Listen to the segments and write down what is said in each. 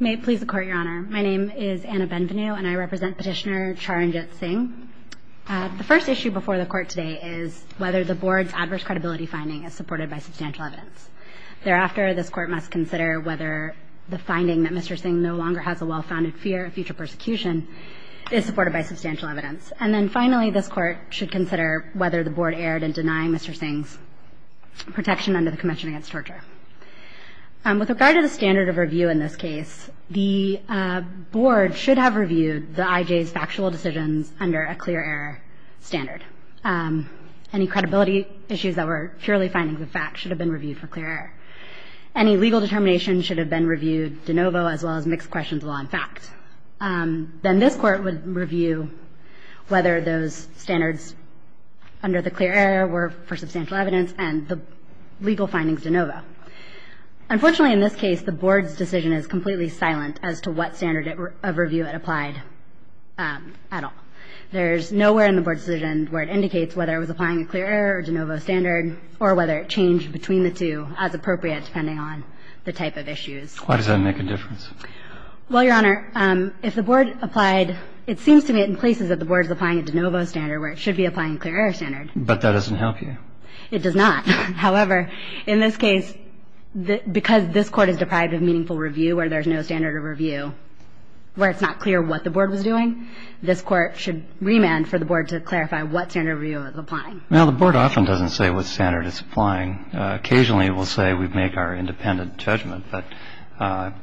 May it please the Court, Your Honor. My name is Anna Benvenu and I represent Petitioner Charan Jit-Singh. The first issue before the Court today is whether the Board's adverse credibility finding is supported by substantial evidence. Thereafter, this Court must consider whether the finding that Mr. Singh no longer has a well-founded fear of future persecution is supported by substantial evidence. And then finally, this Court should consider whether the Board erred in denying Mr. Singh's protection under the Convention Against Torture. With regard to the standard of review in this case, the Board should have reviewed the IJ's factual decisions under a clear error standard. Any credibility issues that were purely findings of fact should have been reviewed for clear error. Any legal determination should have been reviewed de novo as well as mixed questions of law and fact. Then this Court would review whether those standards under the clear error were for substantial evidence and the legal findings de novo. Unfortunately, in this case, the Board's decision is completely silent as to what standard of review it applied at all. There's nowhere in the Board's decision where it indicates whether it was applying a clear error or de novo standard or whether it changed between the two as appropriate depending on the type of issues. Why does that make a difference? Well, Your Honor, if the Board applied, it seems to me in places that the Board is applying a de novo standard where it should be applying a clear error standard. But that doesn't help you. It does not. However, in this case, because this Court is deprived of meaningful review where there's no standard of review, where it's not clear what the Board was doing, this Court should remand for the Board to clarify what standard of review it was applying. Now, the Board often doesn't say what standard it's applying. Occasionally, it will say we make our independent judgment. But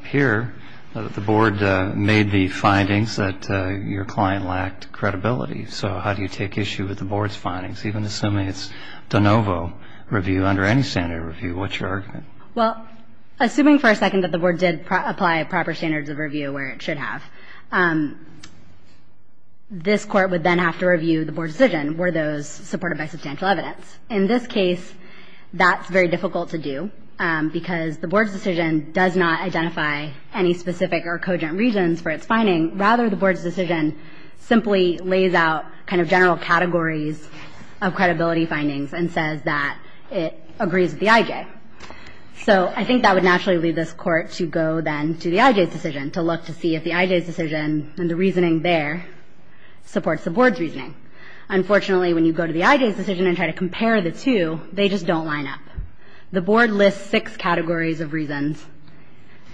here, the Board made the findings that your client lacked credibility. So how do you take issue with the Board's findings, even assuming it's de novo review under any standard of review? What's your argument? Well, assuming for a second that the Board did apply proper standards of review where it should have, this Court would then have to review the Board's decision. Were those supported by substantial evidence? In this case, that's very difficult to do because the Board's decision does not identify any specific or cogent reasons for its finding. Rather, the Board's decision simply lays out kind of general categories of credibility findings and says that it agrees with the IJ. So I think that would naturally lead this Court to go, then, to the IJ's decision to look to see if the IJ's decision and the reasoning there supports the Board's reasoning. Unfortunately, when you go to the IJ's decision and try to compare the two, they just don't line up. The Board lists six categories of reasons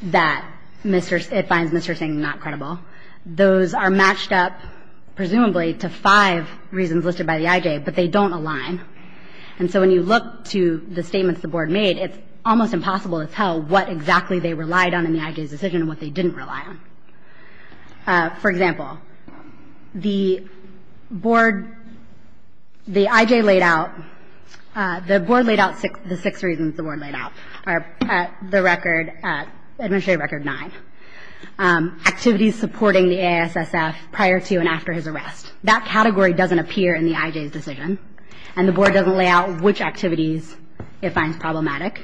that it finds Mr. Singh not credible. Those are matched up, presumably, to five reasons that the IJ's decision does not align with. And so when you look to the statements the Board made, it's almost impossible to tell what exactly they relied on in the IJ's decision and what they didn't rely on. For example, the Board – the IJ laid out – the Board laid out the six reasons the Board laid out are the record – Administrative Record 9, activities supporting the AISSF prior to and after his arrest. That category doesn't appear in the IJ's decision. And the Board doesn't lay out which activities it finds problematic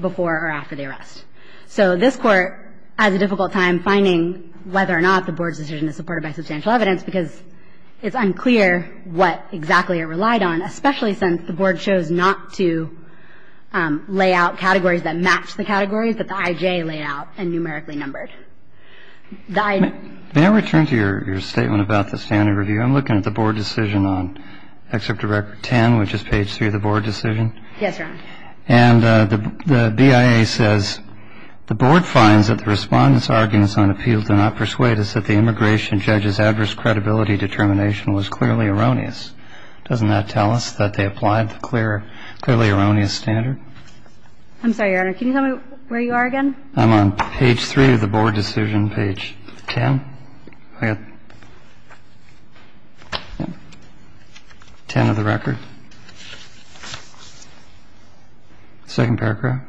before or after the arrest. So this Court has a difficult time finding whether or not the Board's decision is supported by substantial evidence, because it's unclear what exactly it relied on, especially since the Board chose not to lay out categories that match the categories that the IJ laid out and numerically numbered. The I – May I return to your statement about the standard review? I'm looking at the Board decision on Excerpt to Record 10, which is page 3 of the Board decision. Yes, Your Honor. And the BIA says the Board finds that the Respondent's arguments on appeal do not persuade us that the immigration judge's adverse credibility determination was clearly erroneous. Doesn't that tell us that they applied the clearly erroneous standard? I'm sorry, Your Honor. Can you tell me where you are again? I'm on page 3 of the Board decision, page 10. I got 10 of the record. Second paragraph.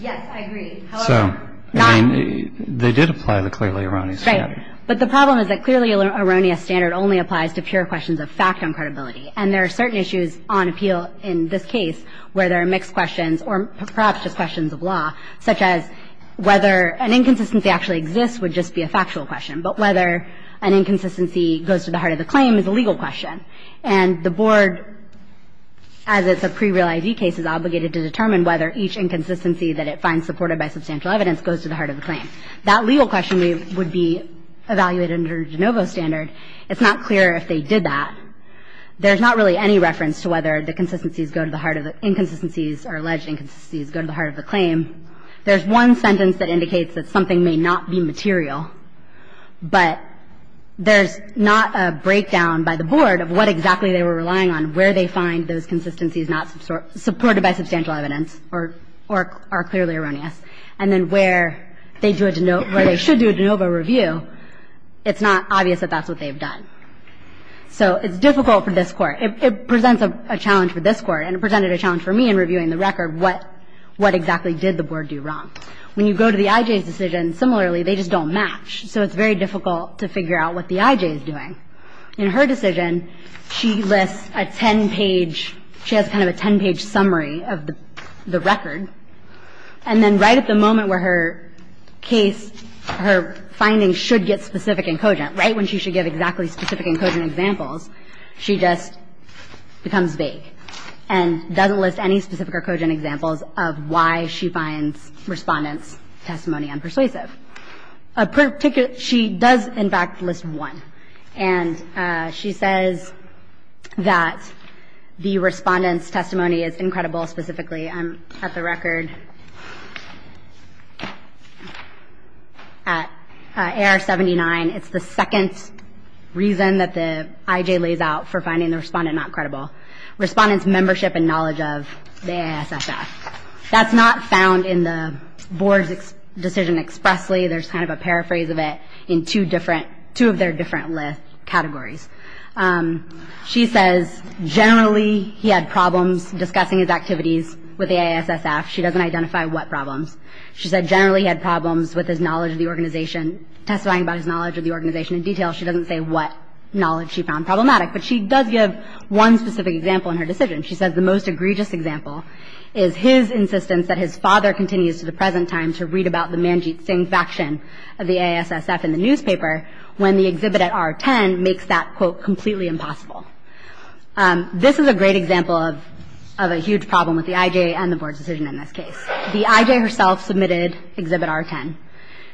Yes, I agree. So, I mean, they did apply the clearly erroneous standard. Right. But the problem is that clearly erroneous standard only applies to pure questions of fact on credibility. And there are certain issues on appeal in this case where there are mixed questions or perhaps just questions of law, such as whether an inconsistency actually exists would just be a factual question, but whether an inconsistency goes to the heart of the claim is a legal question. And the Board, as it's a pre-real ID case, is obligated to determine whether each inconsistency that it finds supported by substantial evidence goes to the heart of the claim. That legal question would be evaluated under de novo standard. It's not clear if they did that. There's not really any reference to whether the consistencies go to the heart of the inconsistencies or alleged inconsistencies go to the heart of the claim. There's one sentence that indicates that something may not be material, but there's not a breakdown by the Board of what exactly they were relying on, where they find those consistencies not supported by substantial evidence or are clearly erroneous, and then where they should do a de novo review, it's not obvious that that's what they've done. So it's difficult for this Court. It presents a challenge for this Court, and it presented a challenge for me in reviewing the record, what exactly did the Board do wrong. When you go to the I.J.'s decision, similarly, they just don't match. So it's very difficult to figure out what the I.J. is doing. In her decision, she lists a ten-page – she has kind of a ten-page summary of the moment where her case – her findings should get specific and cogent, right, when she should give exactly specific and cogent examples. She just becomes vague and doesn't list any specific or cogent examples of why she finds Respondent's testimony unpersuasive. She does, in fact, list one. And she says that the Respondent's testimony is incredible, specifically. I'm – at the record, at A.R. 79, it's the second reason that the I.J. lays out for finding the Respondent not credible. Respondent's membership and knowledge of the A.I.S.S.F. That's not found in the Board's decision expressly. There's kind of a paraphrase of it in two different – two of their different list categories. She says generally he had problems discussing his activities with the A.I.S.S.F. She doesn't identify what problems. She said generally he had problems with his knowledge of the organization – testifying about his knowledge of the organization in detail. She doesn't say what knowledge she found problematic. But she does give one specific example in her decision. She says the most egregious example is his insistence that his father continues to the present time to read about the Manjeet Singh faction of the A.I.S.S.F. in the newspaper when the exhibit at R-10 makes that, quote, completely impossible. This is a great example of a huge problem with the I.J. and the Board's decision in this case. The I.J. herself submitted exhibit R-10.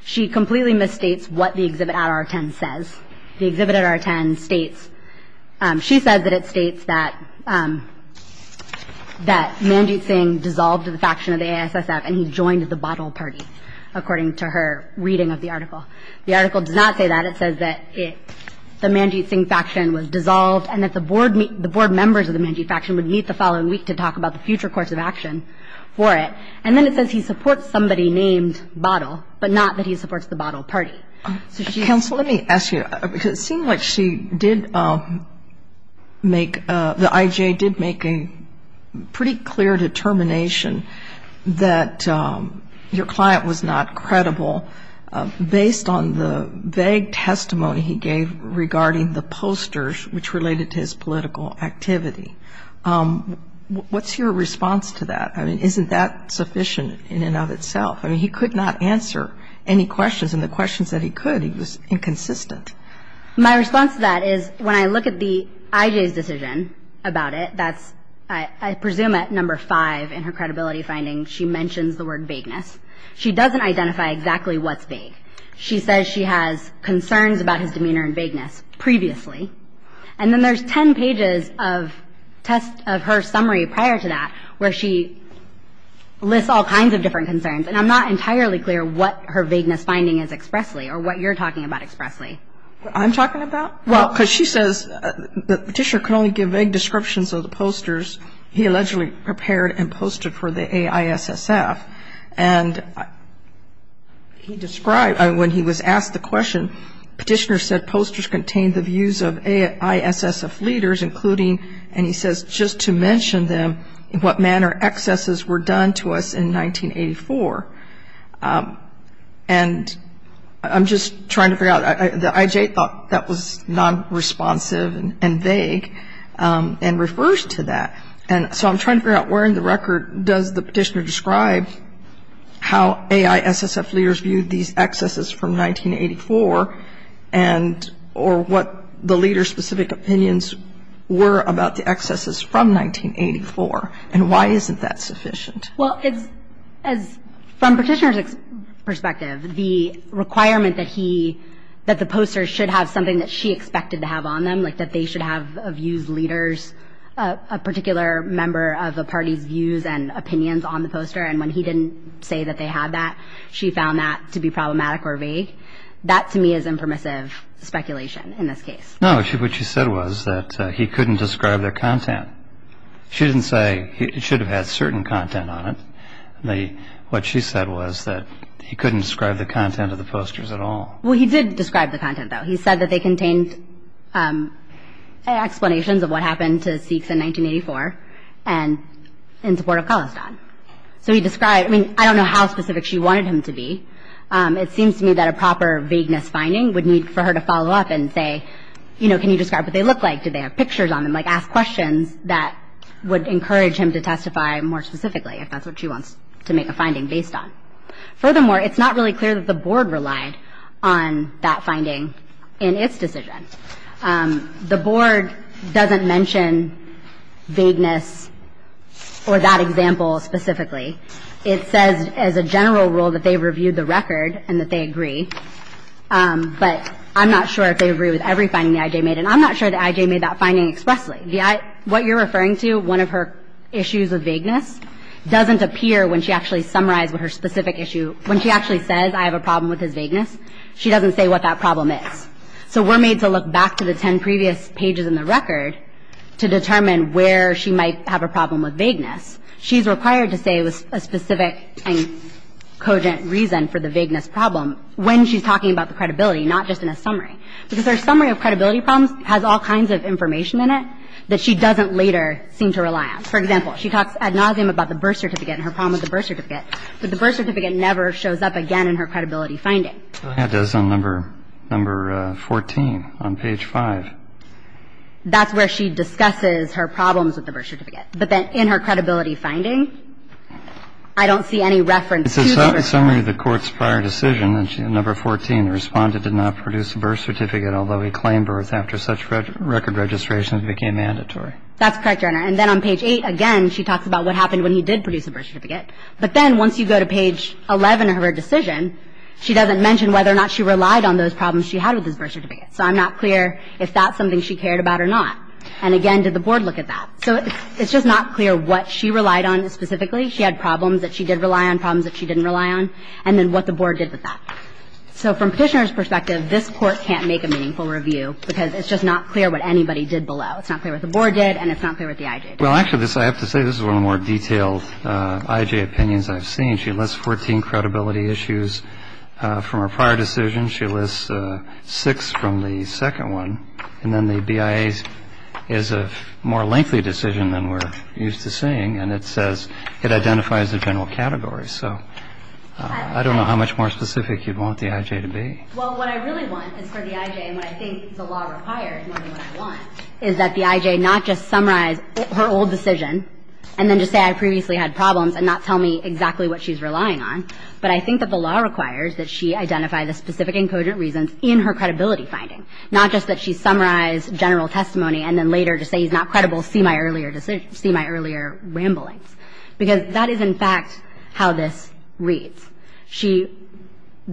She completely misstates what the exhibit at R-10 says. The exhibit at R-10 states – she says that it states that Manjeet Singh dissolved the faction of the A.I.S.S.F. and he joined the bottle party, according to her reading of the article. The article does not say that. It says that the Manjeet Singh faction was dissolved and that the Board members of the Manjeet faction would meet the following week to talk about the future course of action for it. And then it says he supports somebody named Bottle, but not that he supports the Bottle Party. So she's – Counsel, let me ask you. It seems like she did make – the I.J. did make a pretty clear determination that your client was not credible based on the vague testimony he gave regarding the posters, which related to his political activity. What's your response to that? I mean, isn't that sufficient in and of itself? I mean, he could not answer any questions. And the questions that he could, he was inconsistent. My response to that is when I look at the I.J.'s decision about it, that's – I And when I look at the I.J.'s decision about accessibility findings, she mentions the word vagueness. She doesn't identify exactly what's vague. She says she has concerns about his demeanor and vagueness previously. And then there's 10 pages of test of her summary prior to that, where she lists all kinds of different concerns. And I'm not entirely clear what her vagueness finding is expressly or what you're talking about expressly. What I'm talking about? Well – Because she says the petitioner could only give vague descriptions of the posters he allegedly prepared and posted for the AISSF. And he described – when he was asked the question, the petitioner said posters contained the views of AISSF leaders, including – and he says, just to mention them, in what manner excesses were done to us in 1984. And I'm just trying to figure out – the I.J. thought that was non-responsive and vague and refers to that. And so I'm trying to figure out, where in the record does the petitioner describe how AISSF leaders viewed these excesses from 1984 and – or what the leader's specific opinions were about the excesses from 1984? And why isn't that sufficient? Well, it's – as – from the petitioner's perspective, the requirement that he – that the posters should have something that she expected to have on them, like that they should have views, leaders, a particular member of the party's views and opinions on the poster. And when he didn't say that they had that, she found that to be problematic or vague. That, to me, is impermissive speculation in this case. No, what she said was that he couldn't describe their content. She didn't say it should have had certain content on it. What she said was that he couldn't describe the content of the posters at all. Well, he did describe the content, though. He said that they contained explanations of what happened to Sikhs in 1984 and – in support of Khalistan. So he described – I mean, I don't know how specific she wanted him to be. It seems to me that a proper vagueness finding would need for her to follow up and say, you know, can you describe what they look like? Do they have pictures on them? Like, ask questions that would encourage him to testify more specifically, if that's what she wants to make a finding based on. Furthermore, it's not really clear that the Board relied on that finding in its decision. The Board doesn't mention vagueness or that example specifically. It says as a general rule that they reviewed the record and that they agree. But I'm not sure if they agree with every finding that I.J. made. And I'm not sure that I.J. made that finding expressly. What you're referring to, one of her issues of vagueness, doesn't appear when she actually summarizes her specific issue. When she actually says, I have a problem with his vagueness, she doesn't say what that problem is. So we're made to look back to the ten previous pages in the record to determine where she might have a problem with vagueness. She's required to say a specific and cogent reason for the vagueness problem when she's talking about the credibility, not just in a summary. Because her summary of credibility problems has all kinds of information in it that she doesn't later seem to rely on. For example, she talks ad nauseum about the birth certificate and her problem with the birth certificate. But the birth certificate never shows up again in her credibility finding. Go ahead. It does on number 14 on page 5. That's where she discusses her problems with the birth certificate. But then in her credibility finding, I don't see any reference to the birth certificate. It says summary of the court's prior decision. Number 14, the Respondent did not produce the birth certificate, although he claimed birth after such record registration as became mandatory. That's correct, Your Honor. And then on page 8, again, she talks about what happened when he did produce the birth certificate. But then once you go to page 11 of her decision, she doesn't mention whether or not she relied on those problems she had with his birth certificate. So I'm not clear if that's something she cared about or not. And again, did the Board look at that? So it's just not clear what she relied on specifically. She had problems that she did rely on, problems that she didn't rely on, and then what the Board did with that. So from Petitioner's perspective, this Court can't make a meaningful review because it's just not clear what anybody did below. It's not clear what the Board did, and it's not clear what the I.J. did. Well, actually, I have to say this is one of the more detailed I.J. opinions I've seen. She lists 14 credibility issues from her prior decision. She lists six from the second one. And then the BIA's is a more lengthy decision than we're used to seeing, and it says it identifies the general category. So I don't know how much more specific you'd want the I.J. to be. Well, what I really want is for the I.J. and what I think the law requires more than what I want is that the I.J. not just summarize her old decision and then just say I previously had problems and not tell me exactly what she's relying on, but I think that the law requires that she identify the specific and cogent reasons in her credibility finding, not just that she summarize general testimony and then later just say he's not credible, see my earlier ramblings. Because that is, in fact, how this reads.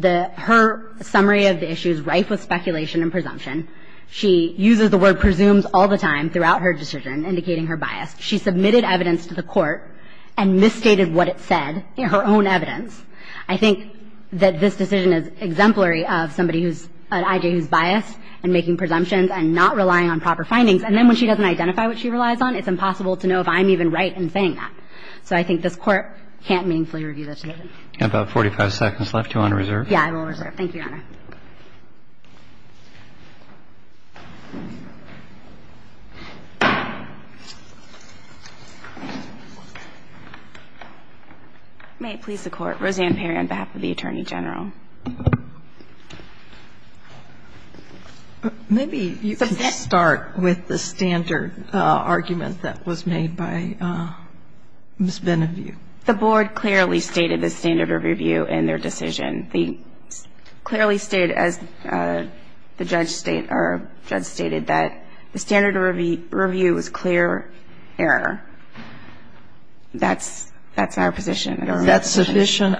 Her summary of the issue is rife with speculation and presumption. She uses the word presumes all the time throughout her decision, indicating her bias. She submitted evidence to the court and misstated what it said in her own evidence. I think that this decision is exemplary of somebody who's an I.J. who's biased and making presumptions and not relying on proper findings. And then when she doesn't identify what she relies on, it's impossible to know if I'm even right in saying that. So I think this Court can't meaningfully review this decision. And about 45 seconds left. You want to reserve? Yeah, I will reserve. Thank you, Your Honor. May it please the Court. Roseanne Perry on behalf of the Attorney General. Maybe you can start with the standard argument that was made by Ms. Benevue. The board clearly stated the standard of review in their decision. They clearly stated, as the judge stated, that the standard of review was clear error. That's our position. Is that sufficient?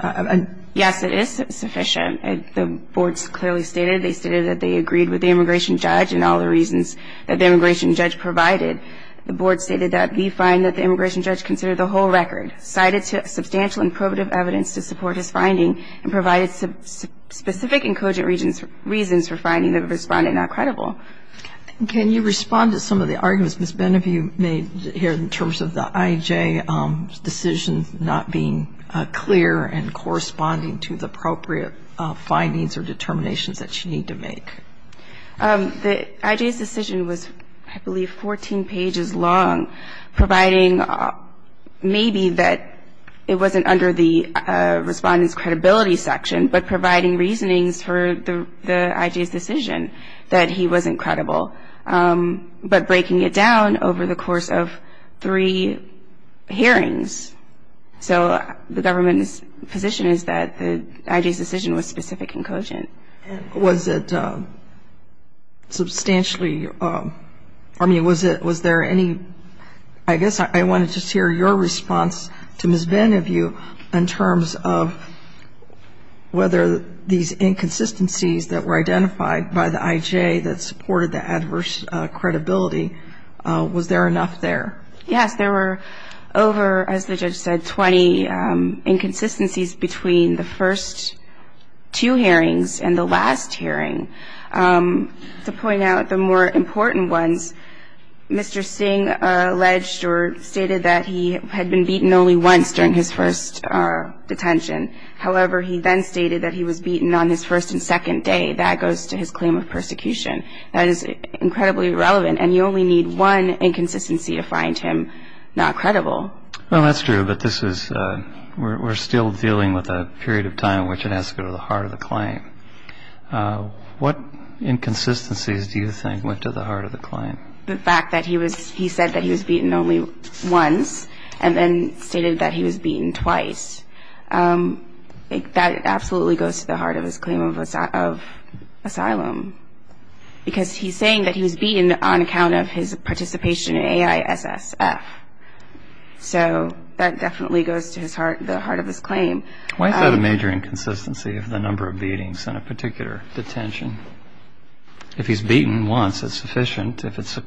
Yes, it is sufficient. The board clearly stated. They stated that they agreed with the immigration judge and all the reasons that the immigration judge provided. The board stated that we find that the immigration judge considered the whole record, cited substantial and probative evidence to support his finding and provided specific and cogent reasons for finding the respondent not credible. Can you respond to some of the arguments Ms. Benevue made here in terms of the IJ decision not being clear and corresponding to the appropriate findings or determinations that she needed to make? The IJ's decision was, I believe, 14 pages long, providing maybe that it wasn't under the respondent's credibility section, but providing reasonings for the IJ's decision that he wasn't credible, but breaking it down over the course of three hearings. So the government's position is that the IJ's decision was specific and cogent. Was it substantially, I mean, was there any, I guess I wanted to hear your response to Ms. Benevue in terms of whether these inconsistencies that were identified by the IJ that supported the adverse credibility, was there enough there? Yes, there were over, as the judge said, inconsistencies between the first two hearings and the last hearing. To point out the more important ones, Mr. Singh alleged or stated that he had been beaten only once during his first detention. However, he then stated that he was beaten on his first and second day. That goes to his claim of persecution. That is incredibly irrelevant, and you only need one inconsistency to find him not credible. Well, that's true, but this is, we're still dealing with a period of time in which it has to go to the heart of the claim. What inconsistencies do you think went to the heart of the claim? The fact that he said that he was beaten only once, and then stated that he was beaten twice. That absolutely goes to the heart of his claim of asylum, because he's saying that he was beaten on account of his participation in AISSF. So that definitely goes to the heart of his claim. Why is that a major inconsistency of the number of beatings in a particular detention? If he's beaten once, it's sufficient if it's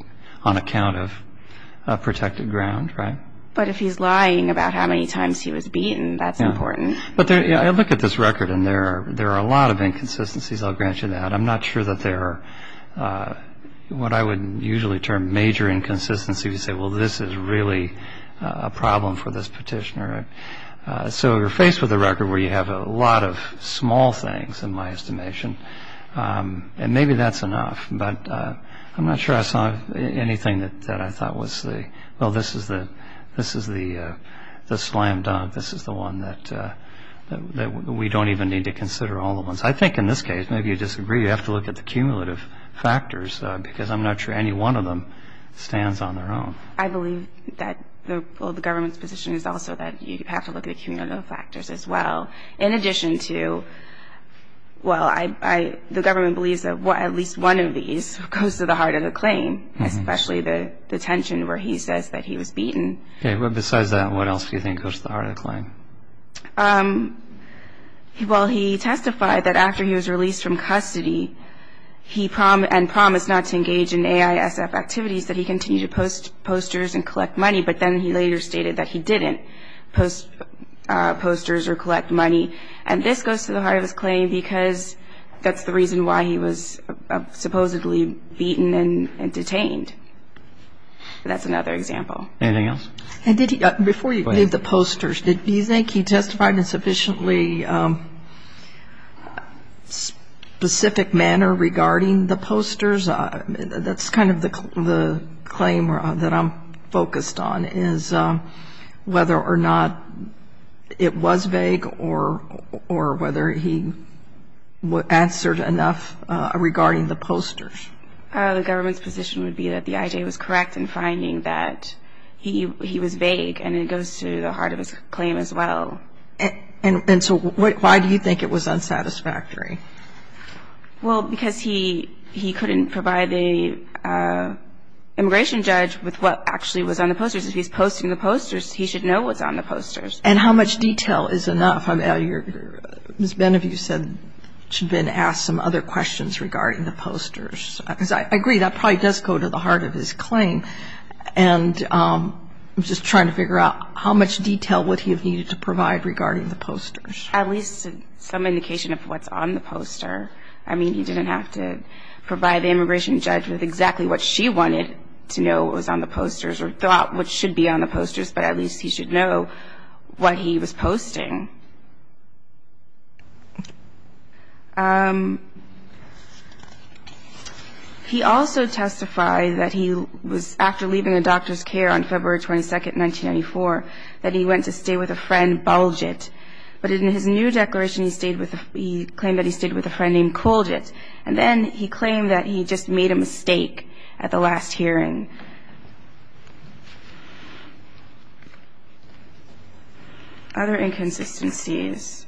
on account of protected ground, right? But if he's lying about how many times he was beaten, that's important. I look at this record, and there are a lot of inconsistencies, I'll grant you that. I'm not sure that there are what I would usually term major inconsistencies. You say, well, this is really a problem for this petitioner. So you're faced with a record where you have a lot of small things, in my estimation, and maybe that's enough, but I'm not sure I saw anything that I thought was the, well, this is the slam dunk. This is the one that we don't even need to consider all the ones. I think in this case, maybe you disagree, you have to look at the cumulative factors because I'm not sure any one of them stands on their own. I believe that the government's position is also that you have to look at the cumulative factors as well. In addition to, well, the government believes that at least one of these goes to the heart of the claim, especially the detention where he says that he was beaten. Besides that, what else do you think goes to the heart of the claim? Well, he testified that after he was released from custody, he promised not to engage in AISF activities, that he continued to post posters and collect money, but then he later stated that he didn't post posters or collect money. And this goes to the heart of his claim because that's the reason why he was supposedly beaten and detained. That's another example. Anything else? Before you leave the posters, do you think he testified in a sufficiently specific manner regarding the posters? That's kind of the claim that I'm focused on is whether or not it was vague or whether he answered enough regarding the posters. The government's position would be that the IJ was correct in finding that he was vague and it goes to the heart of his claim as well. And so why do you think it was unsatisfactory? Well, because he couldn't provide the immigration judge with what actually was on the posters. If he's posting the posters, he should know what's on the posters. And how much detail is enough? Ms. Benevue said she'd been asked some other questions regarding the posters. I agree. That probably does go to the heart of his claim. And I'm just trying to figure out how much detail would he have needed to provide regarding the posters. At least some indication of what's on the poster. I mean, he didn't have to provide the immigration judge with exactly what she wanted to know what was on the posters or thought what should be on the posters, but at least he should know what he was posting. He also testified that he was, after leaving a doctor's care on February 22nd, 1994, that he went to stay with a friend, Bulgett. But in his new declaration, he claimed that he stayed with a friend named Colgett. And then he claimed that he just made a mistake at the last hearing. Other inconsistencies.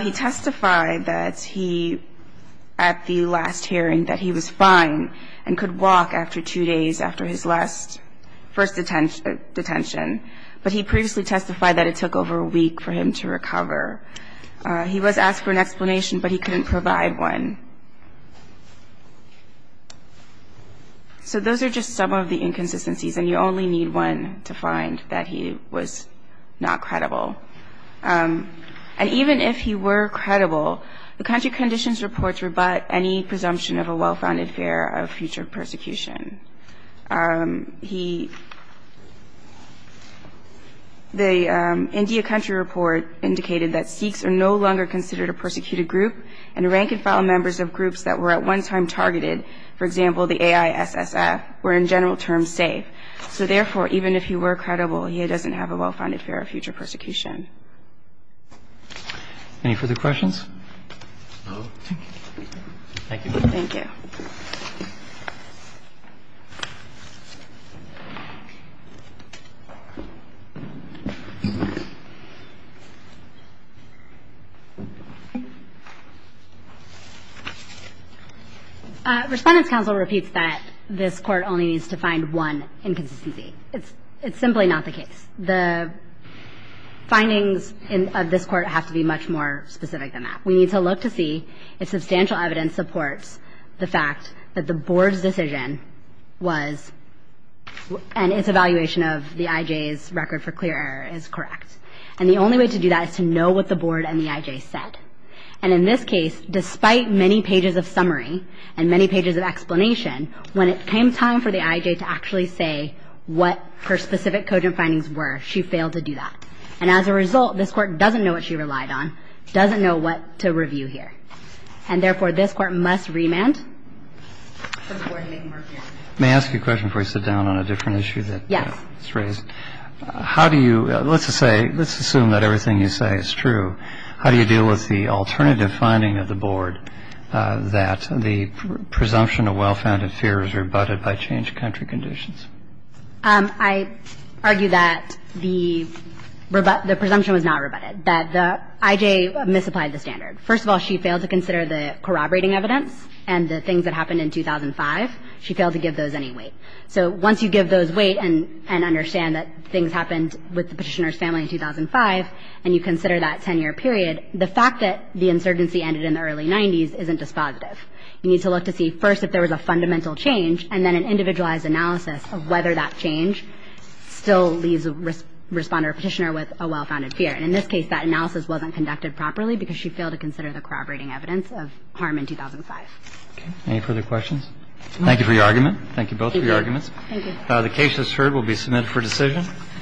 He testified that he, at the last hearing, that he was fine and could walk after two days after his last first detention. But he previously testified that it took over a week for him to recover. He was asked for an explanation, but he couldn't provide one. So those are just some of the inconsistencies, and you only need one to find that he was not credible. And even if he were credible, the country conditions reports rebut any presumption of a well-founded fear of future persecution. He – the India country report indicated that Sikhs are no longer considered a persecuted group, and rank-and-file members of groups that were at one time targeted, for example, the AISSF, were in general terms safe. So therefore, even if he were credible, he doesn't have a well-founded fear of future persecution. Any further questions? No. Thank you. Thank you. Thank you. Respondents' counsel repeats that this court only needs to find one inconsistency. It's simply not the case. The findings of this court have to be much more specific than that. We need to look to see if substantial evidence supports the fact that the board's decision was – and its evaluation of the IJ's record for clear error is correct. And the only way to do that is to know what the board and the IJ said. And in this case, despite many pages of summary and many pages of explanation, when it came time for the IJ to actually say what her specific cogent findings were, she failed to do that. And as a result, this court doesn't know what she relied on, doesn't know what to review here. And therefore, this court must remand. May I ask you a question before you sit down on a different issue that's raised? Yes. How do you – let's assume that everything you say is true. How do you deal with the alternative finding of the board that the presumption of well-founded fear is rebutted by changed country conditions? I argue that the presumption was not rebutted, that the IJ misapplied the standard. First of all, she failed to consider the corroborating evidence and the things that happened in 2005. She failed to give those any weight. So once you give those weight and understand that things happened with the petitioner's family in 2005 and you consider that 10-year period, the fact that the insurgency ended in the early 90s isn't dispositive. You need to look to see first if there was a fundamental change and then an individualized analysis of whether that change still leaves the responder or petitioner with a well-founded fear. And in this case, that analysis wasn't conducted properly because she failed to consider the corroborating evidence of harm in 2005. Okay. Any further questions? Thank you for your argument. Thank you both for your arguments. Thank you. The case, as heard, will be submitted for decision.